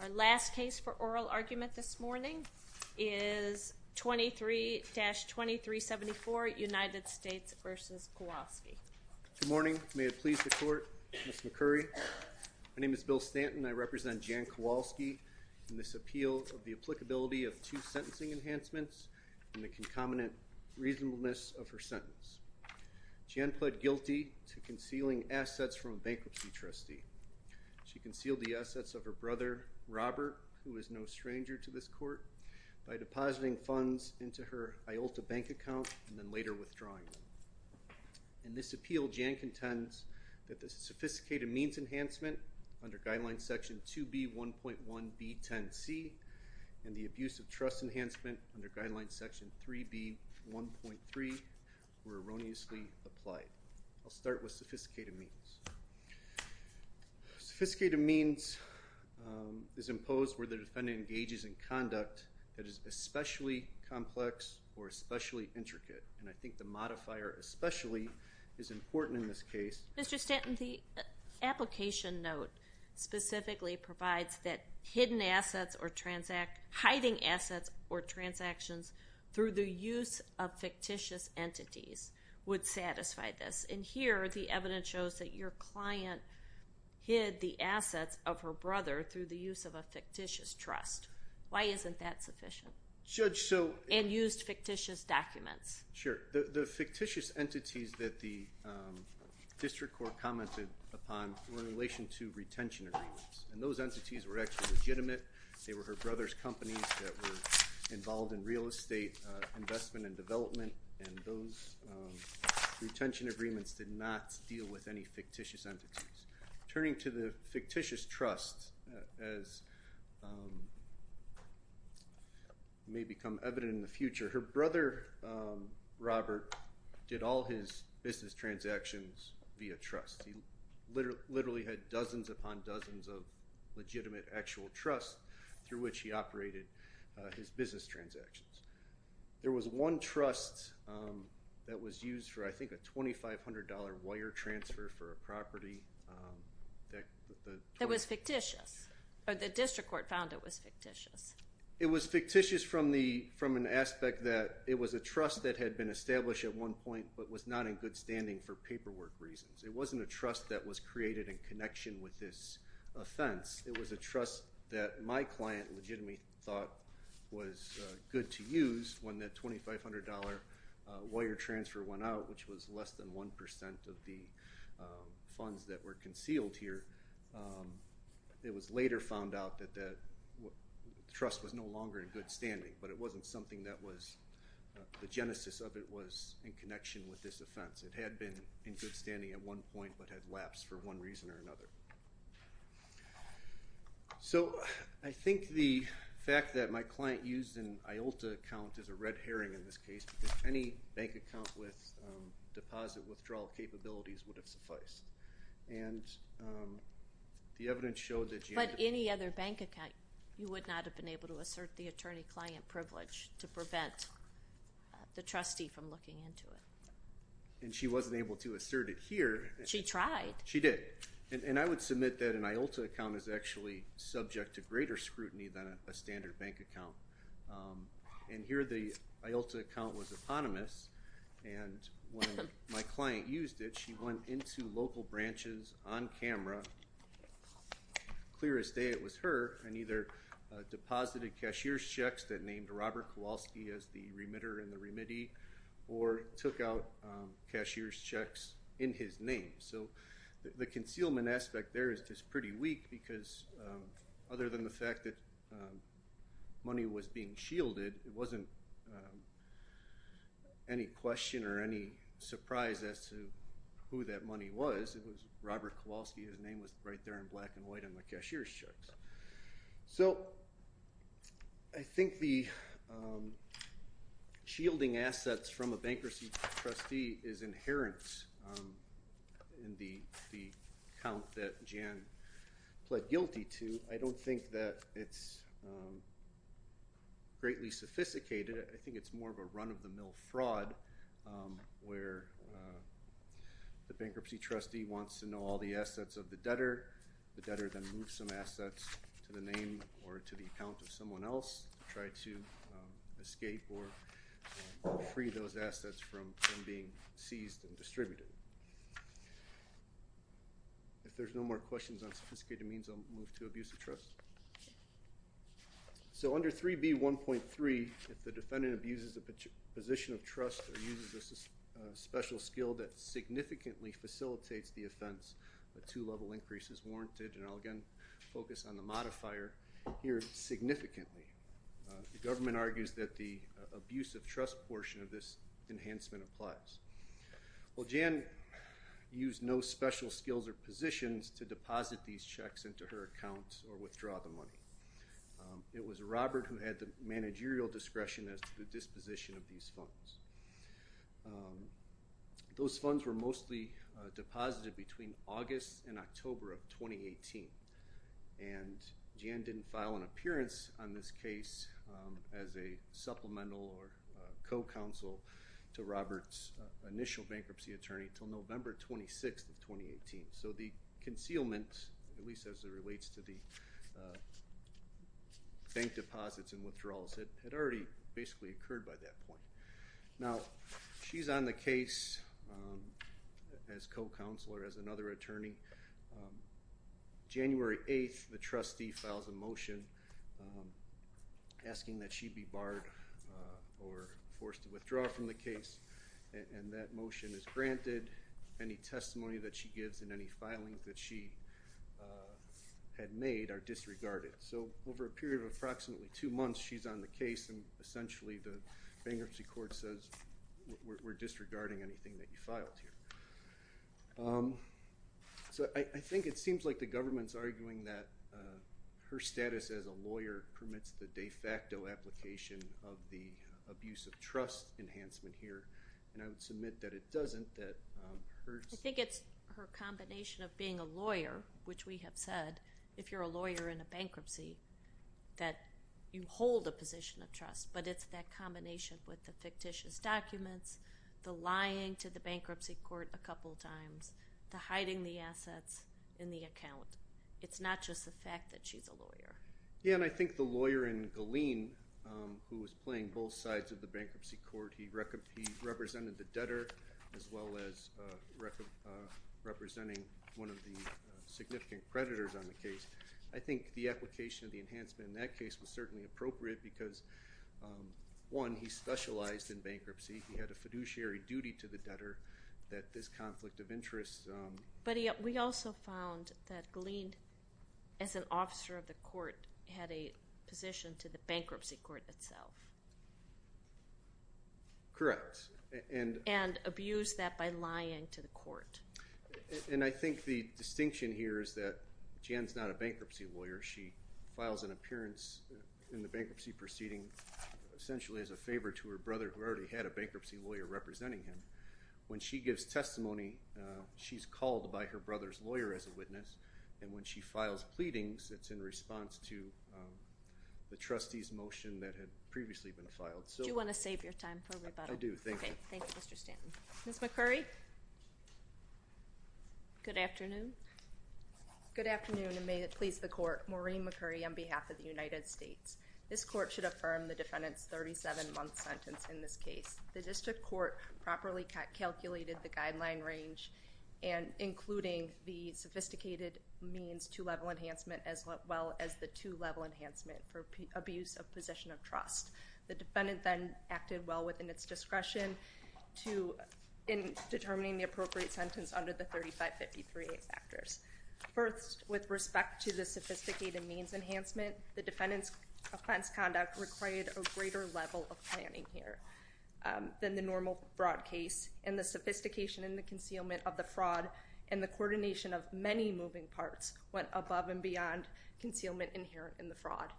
Our last case for oral argument this morning is 23-2374 United States v. Kowalski. Good morning, may it please the court, Ms. McCurry. My name is Bill Stanton. I represent Jan Kowalski in this appeal of the applicability of two sentencing enhancements and the concomitant reasonableness of her sentence. Jan pled guilty to concealing assets from a bankruptcy trustee. She concealed the assets of her brother Robert, who is no stranger to this court, by depositing funds into her Iolta bank account and then later withdrawing. In this appeal Jan contends that the sophisticated means enhancement under Guidelines Section 2B.1.1.B.10.C and the abuse of trust enhancement under Guidelines Section 3B.1.3 were erroneously applied. I'll start with Mr. Stanton, the application note specifically provides that hidden assets or transactions, hiding assets or transactions through the use of fictitious entities would satisfy this. And here the evidence shows that your assets of her brother through the use of a fictitious trust. Why isn't that sufficient? Judge, so... And used fictitious documents. Sure, the fictitious entities that the District Court commented upon were in relation to retention agreements and those entities were actually legitimate. They were her brother's companies that were involved in real estate investment and development and those retention agreements did not deal with any fictitious entities. Turning to the fictitious trust, as may become evident in the future, her brother Robert did all his business transactions via trust. He literally had dozens upon dozens of legitimate actual trust through which he operated his business transactions. There was one trust that was used for I think a $2,500 wire transfer for a property. That was fictitious, but the District Court found it was fictitious. It was fictitious from the from an aspect that it was a trust that had been established at one point but was not in good standing for paperwork reasons. It wasn't a trust that was created in connection with this offense. It was a trust that my client legitimately thought was good to 1% of the funds that were concealed here. It was later found out that that trust was no longer in good standing, but it wasn't something that was the genesis of it was in connection with this offense. It had been in good standing at one point but had lapsed for one reason or another. So I think the fact that my client used an IOLTA account as a red herring in this case any bank account with deposit withdrawal capabilities would have sufficed and the evidence showed that... But any other bank account you would not have been able to assert the attorney-client privilege to prevent the trustee from looking into it. And she wasn't able to assert it here. She tried. She did and I would submit that an IOLTA account is actually subject to greater eponymous and when my client used it she went into local branches on camera clear as day it was her and either deposited cashier's checks that named Robert Kowalski as the remitter and the remittee or took out cashier's checks in his name. So the concealment aspect there is just pretty weak because other than the fact that money was being shielded it wasn't any question or any surprise as to who that money was. It was Robert Kowalski. His name was right there in black and white on the cashier's checks. So I think the shielding assets from a bankruptcy trustee is inherent in the account that Jan pled guilty to. I don't think that it's greatly sophisticated. I think it's more of a run-of-the-mill fraud where the bankruptcy trustee wants to know all the assets of the debtor. The debtor then moves some assets to the name or to the account of someone else to try to escape or free those assets from being seized and distributed. If so under 3b 1.3 if the defendant abuses a position of trust or uses a special skill that significantly facilitates the offense a two-level increase is warranted and I'll again focus on the modifier here significantly. The government argues that the abuse of trust portion of this enhancement applies. Well Jan used no special skills or positions to deposit these checks into her accounts or withdraw the money. It was Robert who had the managerial discretion as to the disposition of these funds. Those funds were mostly deposited between August and October of 2018 and Jan didn't file an appearance on this case as a supplemental or co-counsel to Robert's initial bankruptcy attorney until November 26th of 2018. So the concealment at least as it relates to the bank deposits and withdrawals it had already basically occurred by that point. Now she's on the case as co-counselor as another attorney. January 8th the trustee files a motion asking that she be barred or forced to withdraw from the case and that motion is granted. Any testimony that she gives in any filings that she had made are disregarded. So over a period of approximately two months she's on the case and essentially the bankruptcy court says we're disregarding anything that you filed here. So I think it seems like the government's arguing that her status as a lawyer permits the de facto application of the abuse of trust enhancement here and I would submit that it doesn't. I think it's her combination of being a lawyer which we have said if you're a lawyer in a bankruptcy that you hold a position of trust but it's that combination with the fictitious documents, the lying to the bankruptcy court a couple times, the hiding the assets in the account. It's not just the fact that she's a lawyer. Yeah and I think the lawyer in Galeen who was playing both sides of the bankruptcy court, he represented the debtor as well as representing one of the significant creditors on the case. I think the application of the enhancement in that case was certainly appropriate because one, he specialized in bankruptcy. He had a fiduciary duty to the debtor that this conflict of interest. But we also found that Galeen as an officer of the court had a position to the bankruptcy court itself. Correct. And abused that by lying to the court. And I think the distinction here is that Jan's not a bankruptcy lawyer. She files an appearance in the bankruptcy proceeding essentially as a favor to her brother who already had a When she gives testimony, she's called by her brother's lawyer as a witness and when she files pleadings, it's in response to the trustee's motion that had previously been filed. Do you want to save your time for rebuttal? I do, thank you. Thank you, Mr. Stanton. Ms. McCurry? Good afternoon. Good afternoon and may it please the court, Maureen McCurry on behalf of the United States. This court should affirm the defendant's 37-month sentence in this case. The district court properly calculated the guideline range and including the sophisticated means two-level enhancement as well as the two-level enhancement for abuse of position of trust. The defendant then acted well within its discretion to in determining the appropriate sentence under the 3553A factors. First, with respect to the sophisticated means enhancement, the defendant's offense required a greater level of planning here than the normal fraud case and the sophistication in the concealment of the fraud and the coordination of many moving parts went above and beyond concealment inherent in the fraud.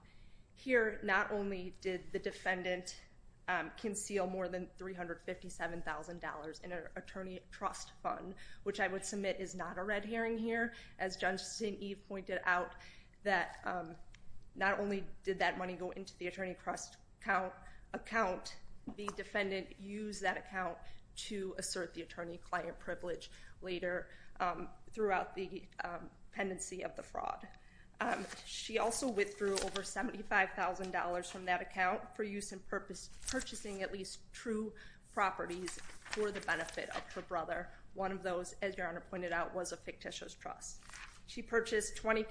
Here, not only did the defendant conceal more than $357,000 in an attorney trust fund, which I would submit is not a red herring here, as Judge the attorney trust account, the defendant used that account to assert the attorney-client privilege later throughout the pendency of the fraud. She also withdrew over $75,000 from that account for use in purchasing at least true properties for the benefit of her brother. One of those, as Your Honor pointed out, was a fictitious trust. She purchased 20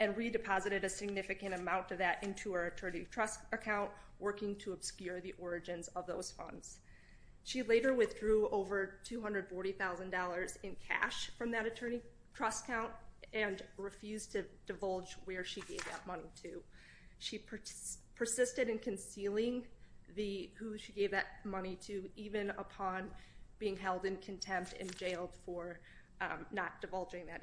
and redeposited a significant amount of that into her attorney trust account, working to obscure the origins of those funds. She later withdrew over $240,000 in cash from that attorney trust account and refused to divulge where she gave that money to. She persisted in concealing who she gave that money to even upon being held in contempt and jailed for not divulging that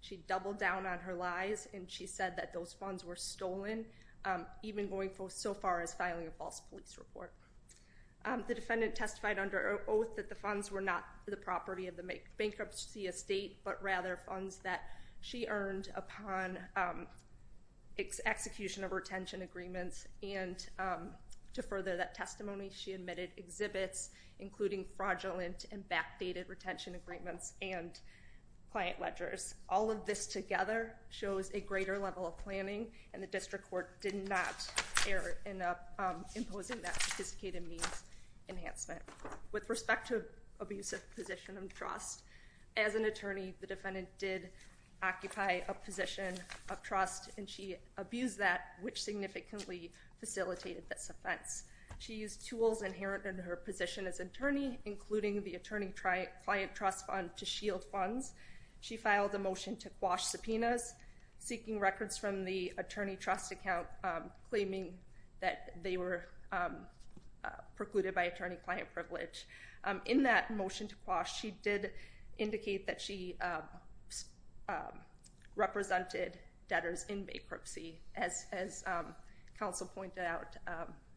She doubled down on her lies and she said that those funds were stolen, even going so far as filing a false police report. The defendant testified under oath that the funds were not the property of the bankruptcy estate, but rather funds that she earned upon execution of retention agreements. And to further that testimony, she admitted exhibits including fraudulent and backdated retention agreements and client ledgers. All of this together shows a greater level of planning and the district court did not err in imposing that sophisticated means enhancement. With respect to abusive position of trust, as an attorney, the defendant did occupy a position of trust and she abused that, which significantly facilitated this offense. She used tools inherent in her client trust fund to shield funds. She filed a motion to quash subpoenas, seeking records from the attorney trust account, claiming that they were precluded by attorney-client privilege. In that motion to quash, she did indicate that she represented debtors in bankruptcy. As counsel pointed out,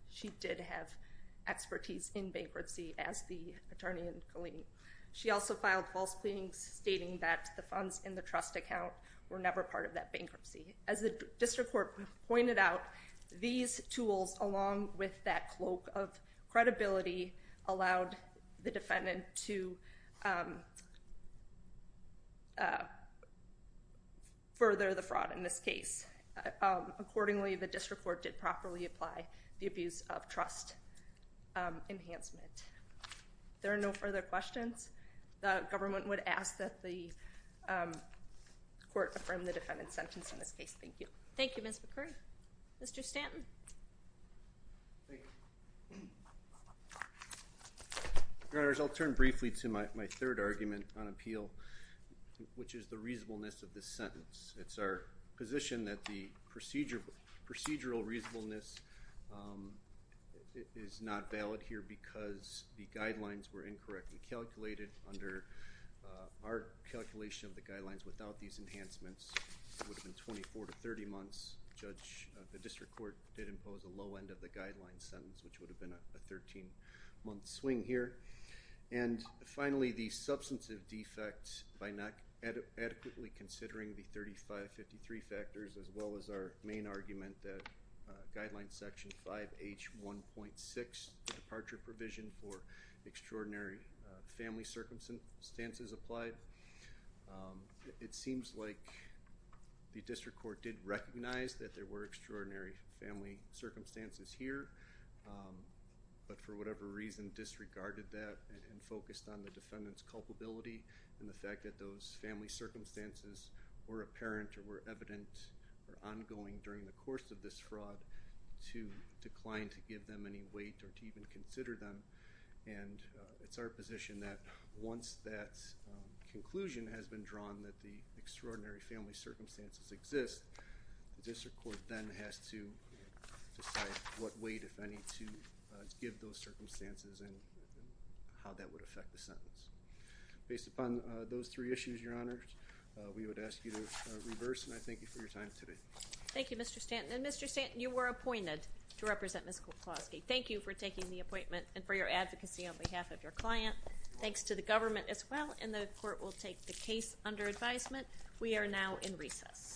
she did have expertise in bankruptcy as the attorney in Colleen. She also filed false pleadings stating that the funds in the trust account were never part of that bankruptcy. As the district court pointed out, these tools along with that cloak of credibility allowed the defendant to further the fraud in this case. Accordingly, the district court did properly apply the abuse of trust enhancement. There are no further questions. The government would ask that the court affirm the defendant's sentence in this case. Thank you. Thank you, Ms. McCurry. Mr. Stanton. Your Honors, I'll turn briefly to my third argument on appeal, which is the that the procedural reasonableness is not valid here because the guidelines were incorrectly calculated. Under our calculation of the guidelines without these enhancements, it would have been 24 to 30 months. The district court did impose a low end of the guidelines sentence, which would have been a 13 month swing here. And finally, the substantive defect by not adequately considering the 3553 factors as well as our main argument that guideline section 5h 1.6 departure provision for extraordinary family circumstances applied. It seems like the district court did recognize that there were extraordinary family circumstances here, but for whatever reason disregarded that and focused on the defendant's culpability and the fact that those circumstances were apparent or were evident or ongoing during the course of this fraud to decline to give them any weight or to even consider them. And it's our position that once that conclusion has been drawn that the extraordinary family circumstances exist, the district court then has to decide what weight, if any, to give those circumstances and how that would affect the sentence. Based on those three issues, your honors, we would ask you to reverse and I thank you for your time today. Thank you, Mr. Stanton. And Mr. Stanton, you were appointed to represent Ms. Kowalski. Thank you for taking the appointment and for your advocacy on behalf of your client. Thanks to the government as well and the court will take the case under advisement. We are now in recess.